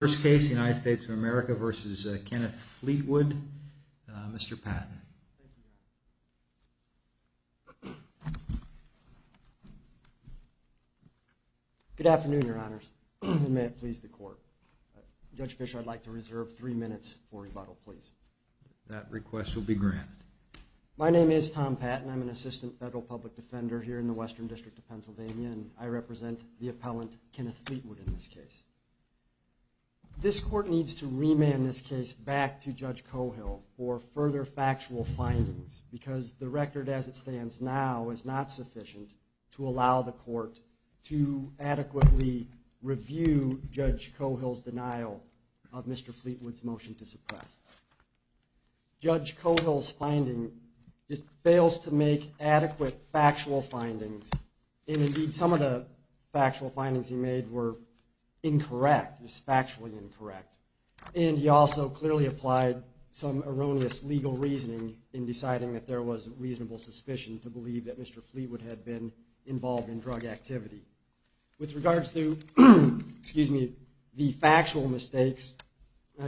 First case, United States of America v. Kenneth Fleetwood. Mr. Patton. Good afternoon, Your Honors, and may it please the Court. Judge Fischer, I'd like to reserve three minutes for rebuttal, please. That request will be granted. My name is Tom Patton. I'm an assistant federal public defender here in the Western District of Pennsylvania, and I represent the appellant, Kenneth Fleetwood, in this case. This Court needs to remand this case back to Judge Cohill for further factual findings, because the record as it stands now is not sufficient to allow the Court to adequately review Judge Cohill's denial of Mr. Fleetwood's motion to suppress. Judge Cohill's finding fails to make adequate factual findings, and indeed some of the factual findings he made were incorrect, just factually incorrect. And he also clearly applied some erroneous legal reasoning in deciding that there was reasonable suspicion to believe that Mr. Fleetwood had been involved in drug activity. With regards to the factual mistakes,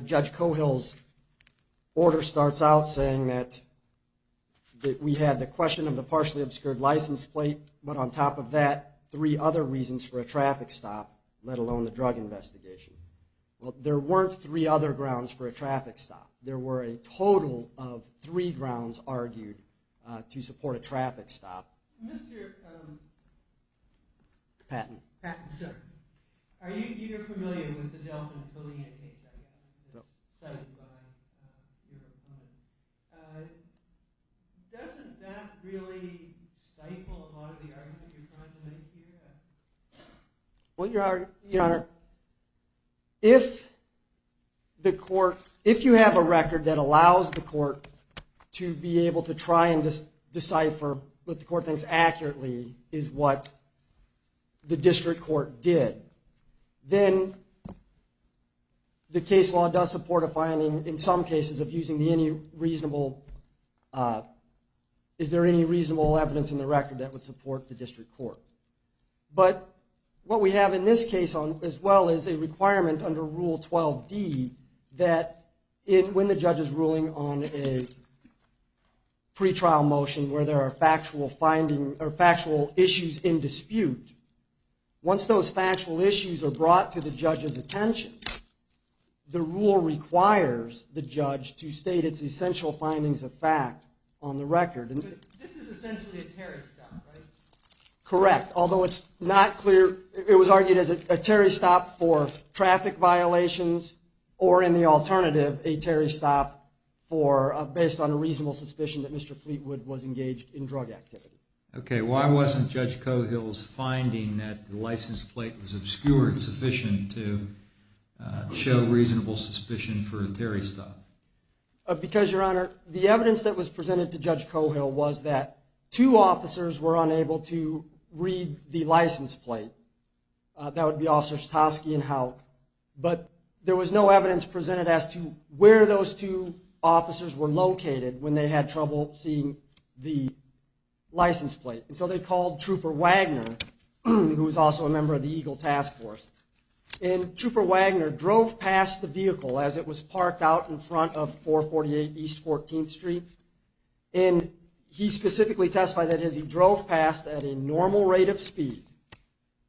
Judge Cohill's order starts out saying that we had the question of the partially obscured license plate, but on top of that, three other reasons for a traffic stop, let alone the drug investigation. Well, there weren't three other grounds for a traffic stop. There were a total of three grounds argued to support a traffic stop. Mr. Patton, are you familiar with the Delfin affiliate case? Doesn't that really stifle a lot of the arguments you're trying to make here? Well, Your Honor, if you have a record that allows the Court to be able to try and decipher what the Court thinks accurately is what the district court did, then the case law does support a finding in some cases of using any reasonable evidence in the record that would support the district court. But what we have in this case, as well as a requirement under Rule 12d, that when the judge is ruling on a pretrial motion where there are factual issues in dispute, once those factual issues are brought to the judge's attention, the rule requires the judge to state its essential findings of fact on the record. This is essentially a Terry stop, right? Correct, although it was argued as a Terry stop for traffic violations, or in the alternative, a Terry stop based on a reasonable suspicion that Mr. Fleetwood was engaged in drug activity. Okay, why wasn't Judge Cohill's finding that the license plate was obscured sufficient to show reasonable suspicion for a Terry stop? Because, Your Honor, the evidence that was presented to Judge Cohill was that two officers were unable to read the license plate. That would be Officers Toski and Houck. But there was no evidence presented as to where those two officers were located when they had trouble seeing the license plate. And so they called Trooper Wagner, who was also a member of the Eagle Task Force. And Trooper Wagner drove past the vehicle as it was parked out in front of 448 East 14th Street. And he specifically testified that as he drove past at a normal rate of speed,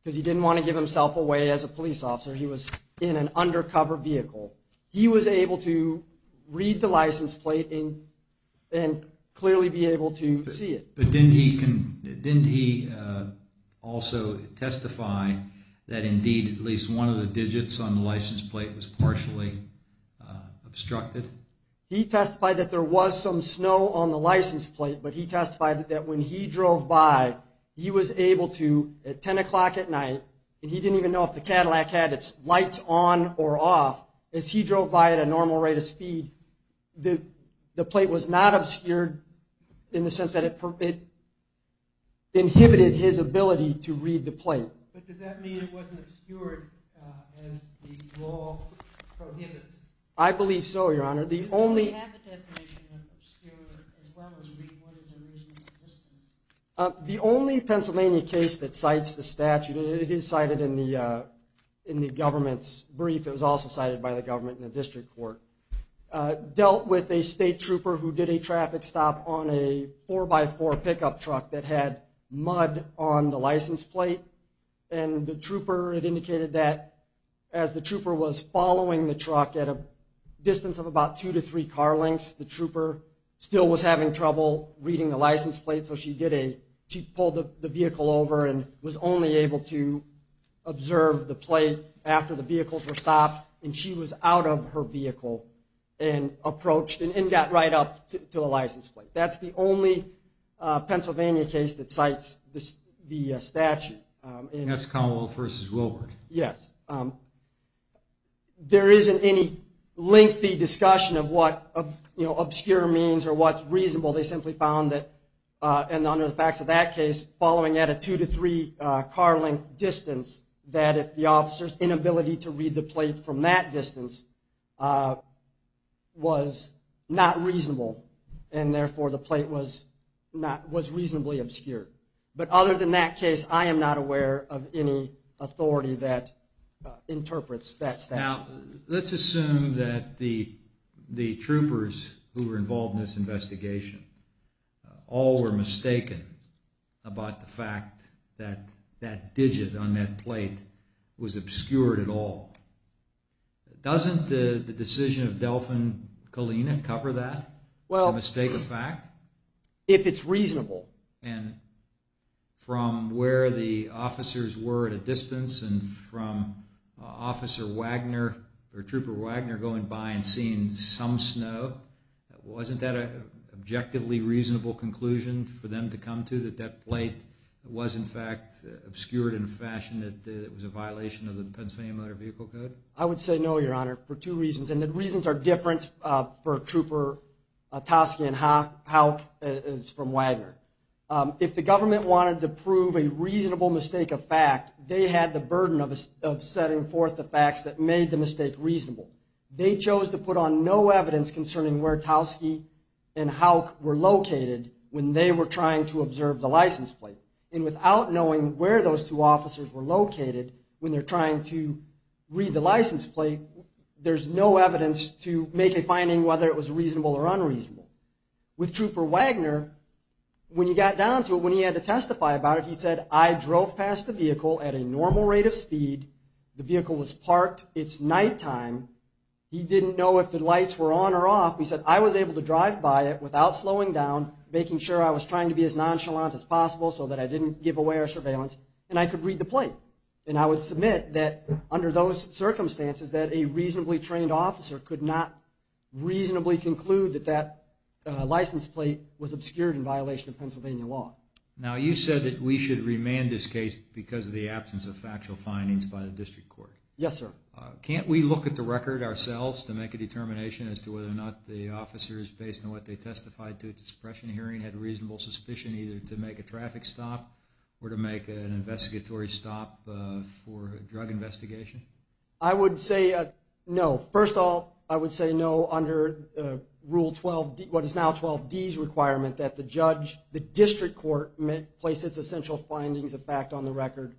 because he didn't want to give himself away as a police officer, he was in an undercover vehicle, he was able to read the license plate and clearly be able to see it. But didn't he also testify that indeed at least one of the digits on the license plate was partially obstructed? He testified that there was some snow on the license plate, but he testified that when he drove by, he was able to, at 10 o'clock at night, and he didn't even know if the Cadillac had its lights on or off, as he drove by at a normal rate of speed, the plate was not obscured in the sense that it inhibited his ability to read the plate. But does that mean it wasn't obscured as the law prohibits? I believe so, Your Honor. The only Pennsylvania case that cites the statute, and it is cited in the government's brief, it was also cited by the government in the district court, dealt with a state trooper who did a traffic stop on a 4x4 pickup truck that had mud on the license plate. And the trooper had indicated that as the trooper was following the truck at a distance of about two to three car lengths, the trooper still was having trouble reading the license plate. So she pulled the vehicle over and was only able to observe the plate after the vehicles were stopped, and she was out of her vehicle and approached and got right up to the license plate. That's the only Pennsylvania case that cites the statute. And that's Commonwealth v. Wilbur. Yes. There isn't any lengthy discussion of what obscure means or what's reasonable. They simply found that, and under the facts of that case, following at a two to three car length distance, that if the officer's inability to read the plate from that distance was not reasonable and therefore the plate was reasonably obscure. But other than that case, I am not aware of any authority that interprets that statute. Now, let's assume that the troopers who were involved in this investigation all were mistaken about the fact that that digit on that plate was obscured at all. Doesn't the decision of Delfin Colina cover that, the mistake of fact? If it's reasonable. And from where the officers were at a distance and from Officer Wagner, or Trooper Wagner going by and seeing some snow, wasn't that an objectively reasonable conclusion for them to come to, that that plate was in fact obscured in a fashion that it was a violation of the Pennsylvania Motor Vehicle Code? I would say no, Your Honor, for two reasons. And the reasons are different for Trooper Tosky and Houck from Wagner. If the government wanted to prove a reasonable mistake of fact, they had the burden of setting forth the facts that made the mistake reasonable. They chose to put on no evidence concerning where Tosky and Houck were located when they were trying to observe the license plate. And without knowing where those two officers were located when they're trying to read the license plate, there's no evidence to make a finding whether it was reasonable or unreasonable. With Trooper Wagner, when he got down to it, when he had to testify about it, he said, I drove past the vehicle at a normal rate of speed. The vehicle was parked. It's nighttime. He didn't know if the lights were on or off. He said, I was able to drive by it without slowing down, making sure I was trying to be as nonchalant as possible so that I didn't give away our surveillance, and I could read the plate. And I would submit that under those circumstances, that a reasonably trained officer could not reasonably conclude that that license plate was obscured in violation of Pennsylvania law. Now, you said that we should remand this case because of the absence of factual findings by the district court. Yes, sir. Can't we look at the record ourselves to make a determination as to whether or not the officers, based on what they testified to at the suppression hearing, had reasonable suspicion either to make a traffic stop or to make an investigatory stop for a drug investigation? I would say no. First of all, I would say no under Rule 12, what is now 12D's requirement, that the district court place its essential findings of fact on the record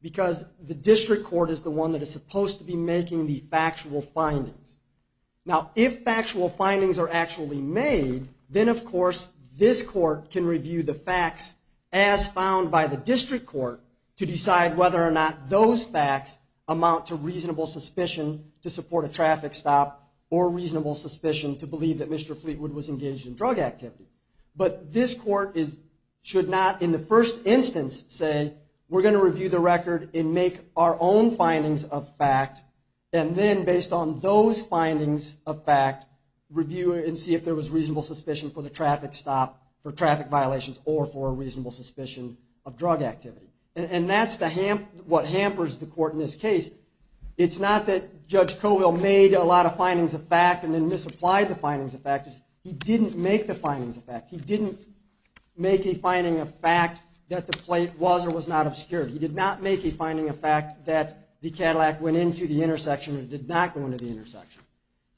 because the district court is the one that is supposed to be making the factual findings. Now, if factual findings are actually made, then of course this court can review the facts as found by the district court to decide whether or not those facts amount to reasonable suspicion to support a traffic stop or reasonable suspicion to believe that Mr. Fleetwood was engaged in drug activity. But this court should not in the first instance say, we're going to review the record and make our own findings of fact, and then based on those findings of fact, review it and see if there was reasonable suspicion for the traffic stop, for traffic violations, or for a reasonable suspicion of drug activity. And that's what hampers the court in this case. It's not that Judge Cowell made a lot of findings of fact and then misapplied the findings of fact. He didn't make the findings of fact. He didn't make a finding of fact that the plate was or was not obscured. He did not make a finding of fact that the Cadillac went into the intersection or did not go into the intersection.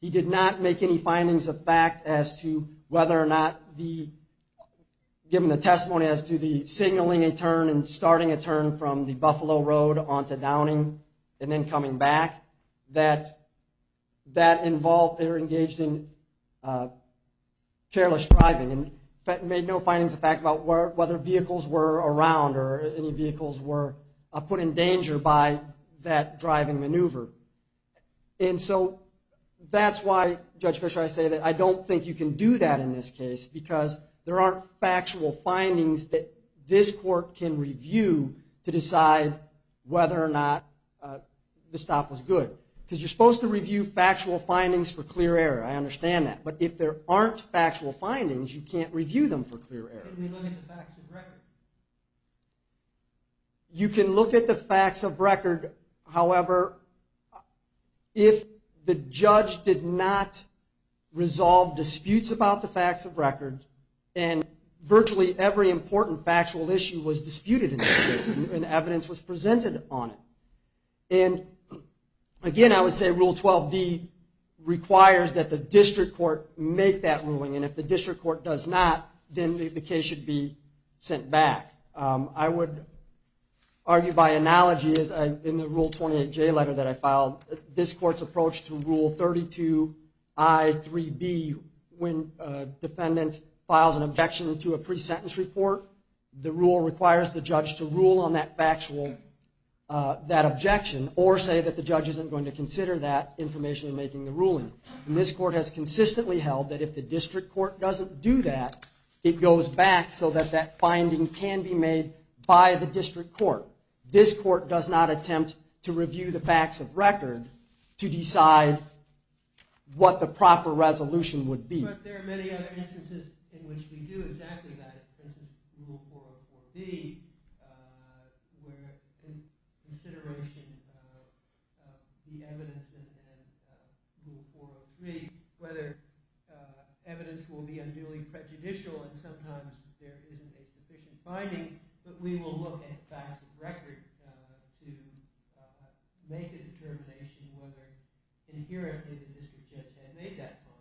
He did not make any findings of fact as to whether or not the, given the testimony as to the signaling a turn and starting a turn from the Buffalo Road onto Downing and then coming back, that that involved or engaged in careless driving and made no findings of fact about whether vehicles were around or any vehicles were put in danger by that driving maneuver. And so that's why, Judge Fischer, I say that I don't think you can do that in this case because there aren't factual findings that this court can review to decide whether or not the stop was good. Because you're supposed to review factual findings for clear error. I understand that. But if there aren't factual findings, you can't review them for clear error. How can we look at the facts of record? You can look at the facts of record, however, if the judge did not resolve disputes about the facts of record and virtually every important factual issue was disputed in the case and evidence was presented on it. And, again, I would say Rule 12d requires that the district court make that ruling. And if the district court does not, then the case should be sent back. I would argue by analogy in the Rule 28j letter that I filed, this court's approach to Rule 32i, 3b, when a defendant files an objection to a pre-sentence report, the rule requires the judge to rule on that objection or say that the judge isn't going to consider that information in making the ruling. And this court has consistently held that if the district court doesn't do that, it goes back so that that finding can be made by the district court. This court does not attempt to review the facts of record to decide what the proper resolution would be. But there are many other instances in which we do exactly that. For instance, Rule 404b, where consideration of the evidence in Rule 403, whether evidence will be unduly prejudicial and sometimes there isn't a sufficient finding, but we will look at facts of record to make a determination whether inherently the district judge had made that finding.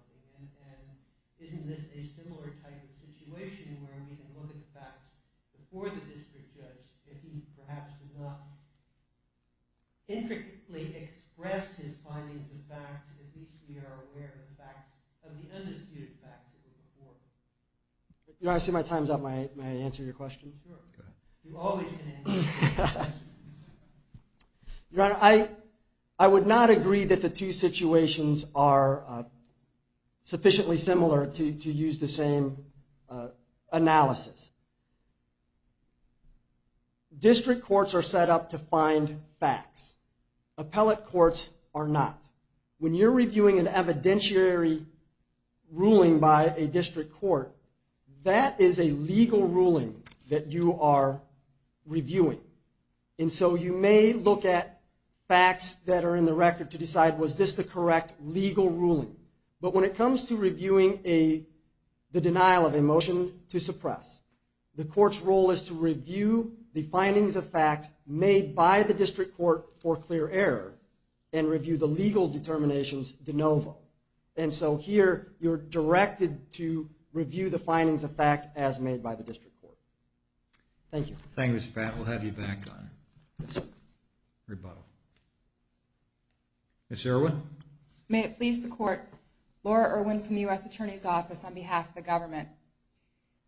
Isn't this a similar type of situation where we can look at the facts before the district judge, if he perhaps did not intricately express his findings of fact, at least we are aware of the undisputed facts of the court. Your Honor, I see my time is up. May I answer your question? Sure. Go ahead. You always can answer my questions. Your Honor, I would not agree that the two situations are sufficiently similar to use the same analysis. District courts are set up to find facts. Appellate courts are not. When you're reviewing an evidentiary ruling by a district court, that is a legal ruling that you are reviewing. And so you may look at facts that are in the record to decide was this the correct legal ruling. But when it comes to reviewing the denial of a motion to suppress, the court's role is to review the findings of fact made by the district court for clear error and review the legal determinations de novo. And so here you're directed to review the findings of fact as made by the district court. Thank you. Thank you, Mr. Pratt. We'll have you back on rebuttal. Ms. Erwin. May it please the court, Laura Erwin from the U.S. Attorney's Office on behalf of the government.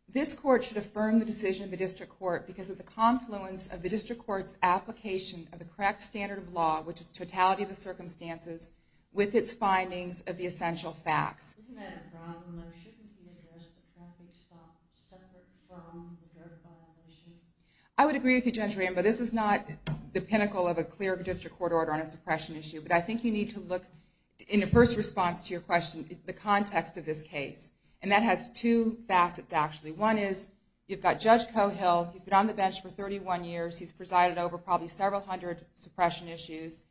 This court should affirm the decision of the district court because of the confluence of the district court's application of the correct standard of law, which is totality of the circumstances, with its findings of the essential facts. Isn't that a problem? There shouldn't be a separate from the jurisdiction? I would agree with you, Judge Rambo. This is not the pinnacle of a clear district court order on a suppression issue. But I think you need to look, in the first response to your question, the context of this case. And that has two facets, actually. One is you've got Judge Cohill. He's been on the bench for 31 years. He's presided over probably several hundred suppression issues.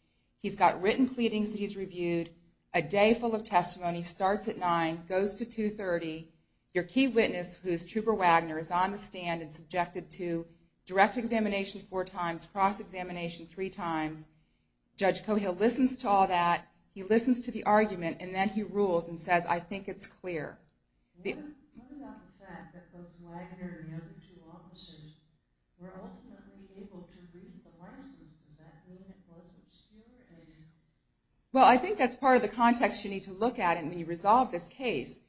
He's got written pleadings that he's reviewed, a day full of testimony, starts at 9, goes to 2.30. Your key witness, who is Trooper Wagner, is on the stand and subjected to direct examination four times, cross-examination three times. Judge Cohill listens to all that. He listens to the argument, and then he rules and says, I think it's clear. What about the fact that both Wagner and the other two officers were ultimately able to read the license? Is that being as close as clear? Well, I think that's part of the context you need to look at when you resolve this case.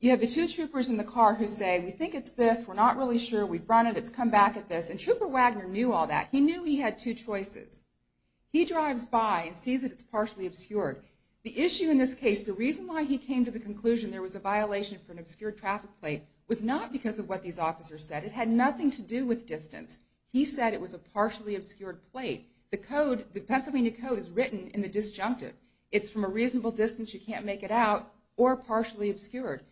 You have the two troopers in the car who say, We think it's this. We're not really sure. We've run it. It's come back at this. And Trooper Wagner knew all that. He knew he had two choices. He drives by and sees that it's partially obscured. The issue in this case, the reason why he came to the conclusion there was a violation for an obscured traffic plate was not because of what these officers said. It had nothing to do with distance. He said it was a partially obscured plate. The Pennsylvania Code is written in the disjunctive. It's from a reasonable distance, you can't make it out, or partially obscured.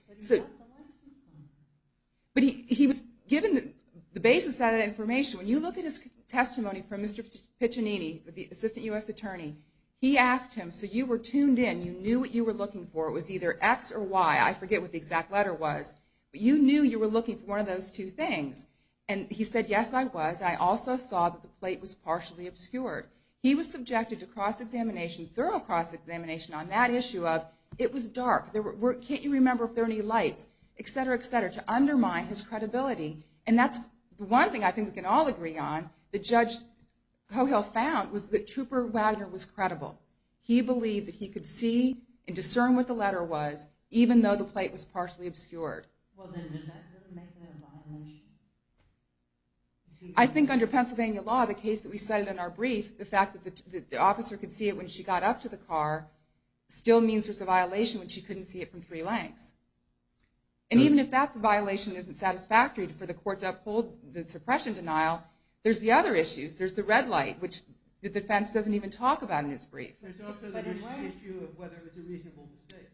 But he was given the basis of that information. When you look at his testimony from Mr. Piccinini, the Assistant U.S. Attorney, he asked him, So you were tuned in. You knew what you were looking for. It was either X or Y. I forget what the exact letter was. But you knew you were looking for one of those two things. And he said, Yes, I was. I also saw that the plate was partially obscured. He was subjected to cross-examination, thorough cross-examination on that issue of, It was dark. Can't you remember if there are any lights, et cetera, et cetera, to undermine his credibility. And that's the one thing I think we can all agree on, that Judge Cogill found, was that Trooper Wagner was credible. He believed that he could see and discern what the letter was, even though the plate was partially obscured. Well, then, does that make that a violation? I think under Pennsylvania law, the case that we cited in our brief, the fact that the officer could see it when she got up to the car, still means there's a violation when she couldn't see it from three lengths. And even if that violation isn't satisfactory for the court to uphold the suppression denial, there's the other issues. There's the red light, which the defense doesn't even talk about in his brief. There's also the issue of whether it was a reasonable mistake.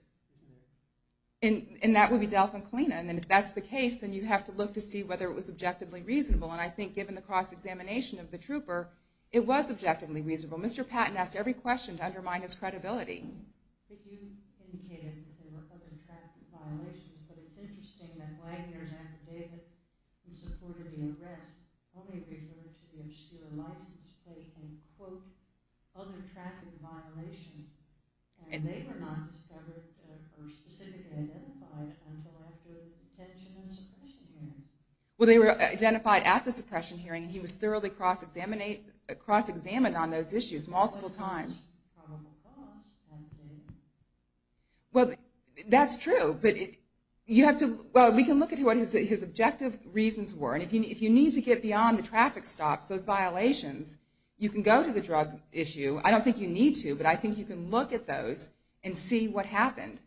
And that would be Delfin Klena. And if that's the case, then you have to look to see whether it was objectively reasonable. And I think, given the cross-examination of the Trooper, it was objectively reasonable. Mr. Patton asked every question to undermine his credibility. You indicated that there were other traffic violations, but it's interesting that Wagner's affidavit in support of the arrest only referred to the obscure license plate and, quote, other traffic violations. And they were not discovered or specifically identified until after the detention and suppression hearing. Well, they were identified at the suppression hearing, and he was thoroughly cross-examined on those issues multiple times. Well, that's true, but you have to... Well, we can look at what his objective reasons were, and if you need to get beyond the traffic stops, those violations, you can go to the drug issue. I don't think you need to, but I think you can look at those and see what happened.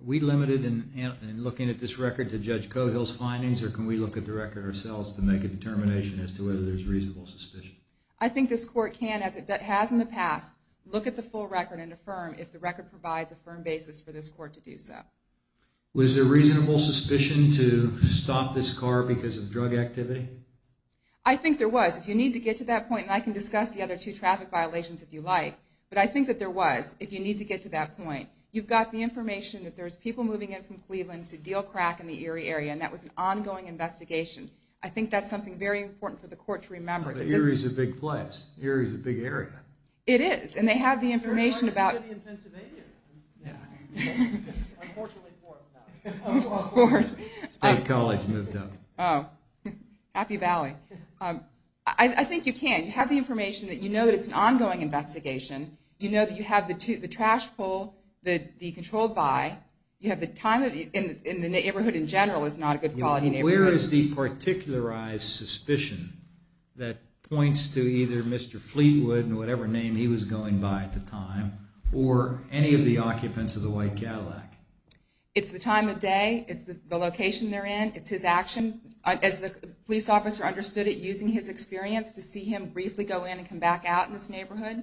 Are we limited in looking at this record to Judge Cogill's findings, or can we look at the record ourselves to make a determination as to whether there's reasonable suspicion? I think this court can, as it has in the past, look at the full record and affirm if the record provides a firm basis for this court to do so. Was there reasonable suspicion to stop this car because of drug activity? I think there was. If you need to get to that point, and I can discuss the other two traffic violations if you like, but I think that there was, if you need to get to that point. You've got the information that there's people moving in from Cleveland to deal crack in the Erie area, and that was an ongoing investigation. I think that's something very important for the court to remember. But Erie's a big place. Erie's a big area. It is, and they have the information about... It's a very large city in Pennsylvania. Yeah. Unfortunately, Ford's out. Ford. State College moved up. Oh. Happy Valley. I think you can. You have the information that you know that it's an ongoing investigation. You know that you have the trash pull, the controlled by, you have the time of year, and the neighborhood in general is not a good quality neighborhood. Where is the particularized suspicion that points to either Mr. Fleetwood and whatever name he was going by at the time or any of the occupants of the White Cadillac? It's the time of day. It's the location they're in. It's his action. As the police officer understood it, using his experience to see him briefly go in and come back out in this neighborhood,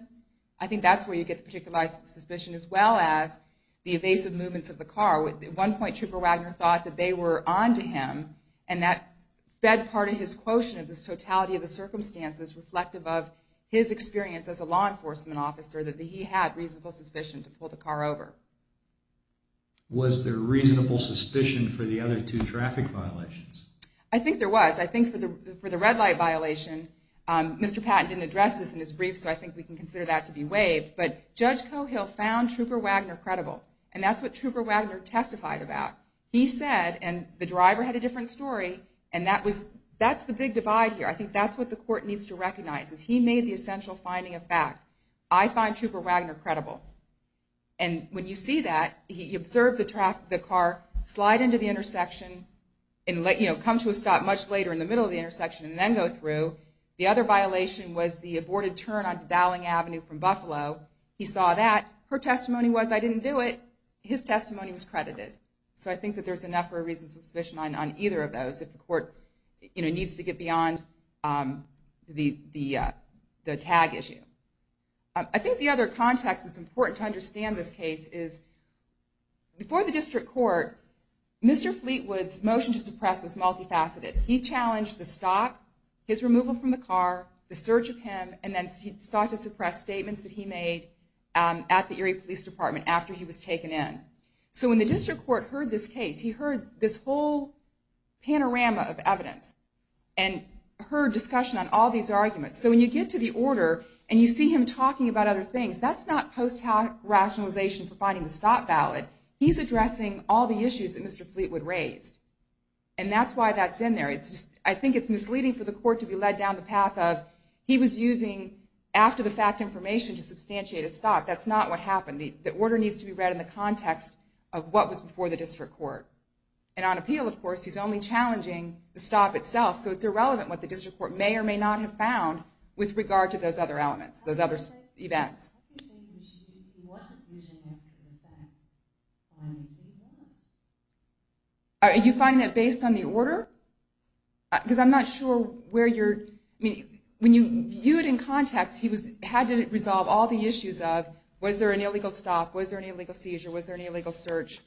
I think that's where you get the particularized suspicion as well as the evasive movements of the car. At one point, Trooper Wagner thought that they were on to him, and that fed part of his quotient, this totality of the circumstances, reflective of his experience as a law enforcement officer that he had reasonable suspicion to pull the car over. Was there reasonable suspicion for the other two traffic violations? I think there was. I think for the red light violation, Mr. Patton didn't address this in his brief, so I think we can consider that to be waived, but Judge Cohill found Trooper Wagner credible, and that's what Trooper Wagner testified about. He said, and the driver had a different story, and that's the big divide here. I think that's what the court needs to recognize, is he made the essential finding of fact. I find Trooper Wagner credible. And when you see that, he observed the car slide into the intersection and come to a stop much later in the middle of the intersection and then go through. The other violation was the aborted turn onto Dowling Avenue from Buffalo. He saw that. Her testimony was, I didn't do it. His testimony was credited. So I think that there's enough for a reasonable suspicion on either of those, if the court needs to get beyond the tag issue. I think the other context that's important to understand this case is, before the district court, Mr. Fleetwood's motion to suppress was multifaceted. He challenged the stop, his removal from the car, the search of him, and then sought to suppress statements that he made at the Erie Police Department after he was taken in. So when the district court heard this case, he heard this whole panorama of evidence and heard discussion on all these arguments. So when you get to the order and you see him talking about other things, that's not post-hoc rationalization for finding the stop valid. He's addressing all the issues that Mr. Fleetwood raised. And that's why that's in there. I think it's misleading for the court to be led down the path of, he was using after-the-fact information to substantiate a stop. That's not what happened. The order needs to be read in the context of what was before the district court. And on appeal, of course, he's only challenging the stop itself, so it's irrelevant what the district court may or may not have found with regard to those other elements, those other events. Are you finding that based on the order? Because I'm not sure where you're... When you view it in context, he had to resolve all the issues of, was there an illegal stop, was there an illegal seizure, was there an illegal search?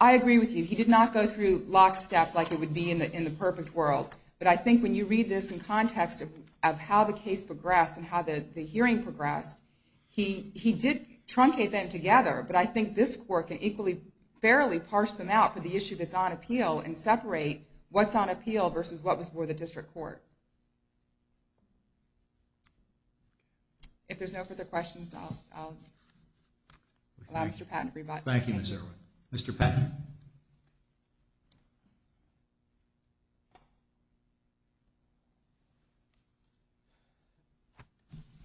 I agree with you. He did not go through lockstep like it would be in the perfect world. But I think when you read this in context of how the case progressed and how the hearing progressed, he did truncate them together, but I think this court can equally, fairly parse them out for the issue that's on appeal and separate what's on appeal versus what was before the district court. If there's no further questions, I'll allow Mr. Patton to rebut. Thank you, Ms. Irwin. Mr. Patton.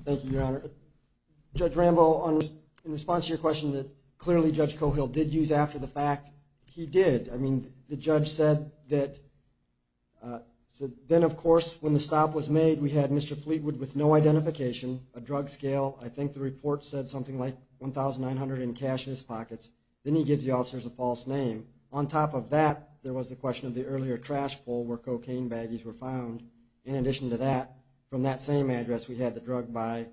Thank you, Your Honor. Judge Rambo, in response to your question that clearly Judge Cohill did use after the fact, he did. I mean, the judge said that... Then, of course, when the stop was made, we had Mr. Fleetwood with no identification, a drug scale. I think the report said something like 1,900 in cash in his pockets. Then he gives the officers a false name. On top of that, there was the question of the earlier trash pull where cocaine baggies were found. In addition to that, from that same address, we had the drug by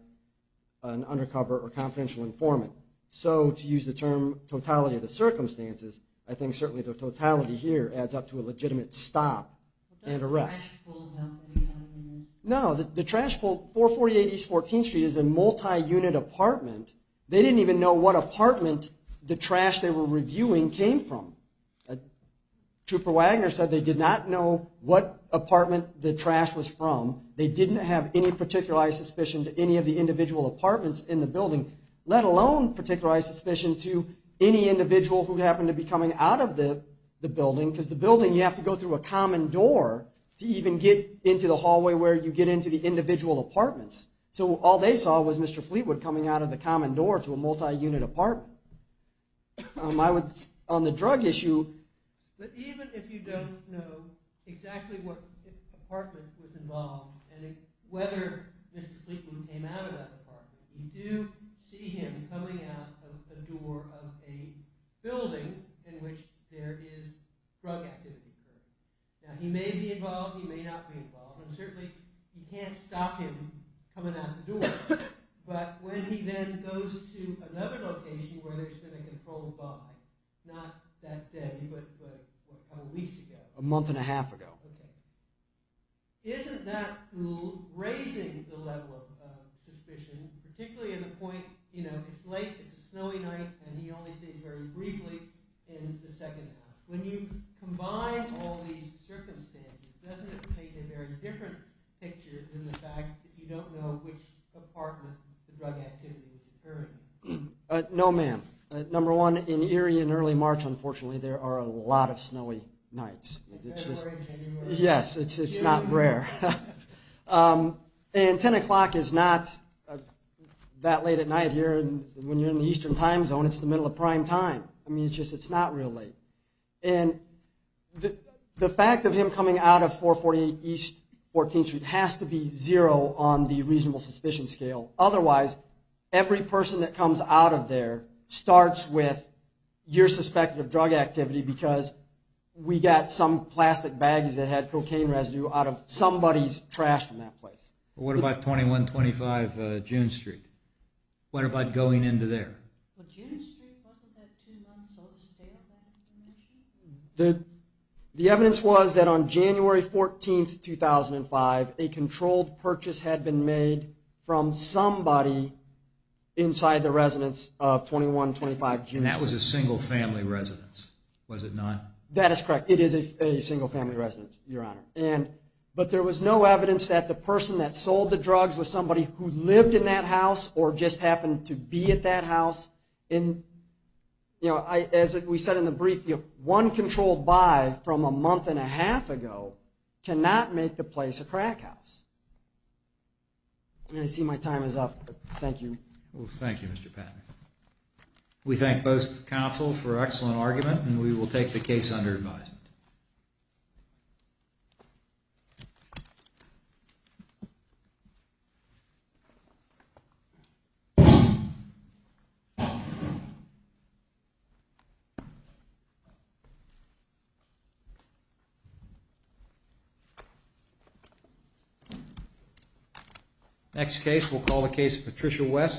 an undercover or confidential informant. So to use the term totality of the circumstances, I think certainly the totality here adds up to a legitimate stop and arrest. No, the trash pull... 448 East 14th Street is a multi-unit apartment. They didn't even know what apartment the trash they were reviewing came from. Trooper Wagner said they did not know what apartment the trash was from. They didn't have any particularized suspicion to any of the individual apartments in the building, let alone particularized suspicion to any individual who happened to be coming out of the building because the building, you have to go through a common door to even get into the hallway where you get into the individual apartments. So all they saw was Mr. Fleetwood coming out of the common door to a multi-unit apartment. I would, on the drug issue... But even if you don't know exactly what apartment was involved and whether Mr. Fleetwood came out of that apartment, we do see him coming out of the door of a building in which there is drug activity. Now, he may be involved, he may not be involved, and certainly you can't stop him coming out the door. But when he then goes to another location where there's been a controlled bomb, not that day, but a couple weeks ago... A month and a half ago. Isn't that raising the level of suspicion, particularly in the point, you know, it's late, it's a snowy night, and he only stays very briefly in the second half? When you combine all these circumstances, doesn't it paint a very different picture than the fact that you don't know which apartment the drug activity is occurring in? No, ma'am. Number one, in Erie in early March, unfortunately, there are a lot of snowy nights. February, January... Yes, it's not rare. And 10 o'clock is not that late at night here. When you're in the eastern time zone, it's the middle of prime time. I mean, it's just, it's not real late. And the fact of him coming out of 448 East 14th Street has to be zero on the reasonable suspicion scale. Otherwise, every person that comes out of there starts with you're suspected of drug activity because we got some plastic baggies that had cocaine residue out of somebody's trash from that place. What about 2125 June Street? What about going into there? Well, June Street, wasn't that too non-solid scale? The evidence was that on January 14th, 2005, a controlled purchase had been made from somebody inside the residence of 2125 June Street. And that was a single-family residence, was it not? That is correct. It is a single-family residence, Your Honor. But there was no evidence that the person that sold the drugs was somebody who lived in that house or just happened to be at that house. As we said in the brief, one controlled buy from a month and a half ago cannot make the place a crack house. I see my time is up, but thank you. Thank you, Mr. Patton. We thank both counsels for an excellent argument, and we will take the case under advisement. Next case we'll call the case of Patricia West.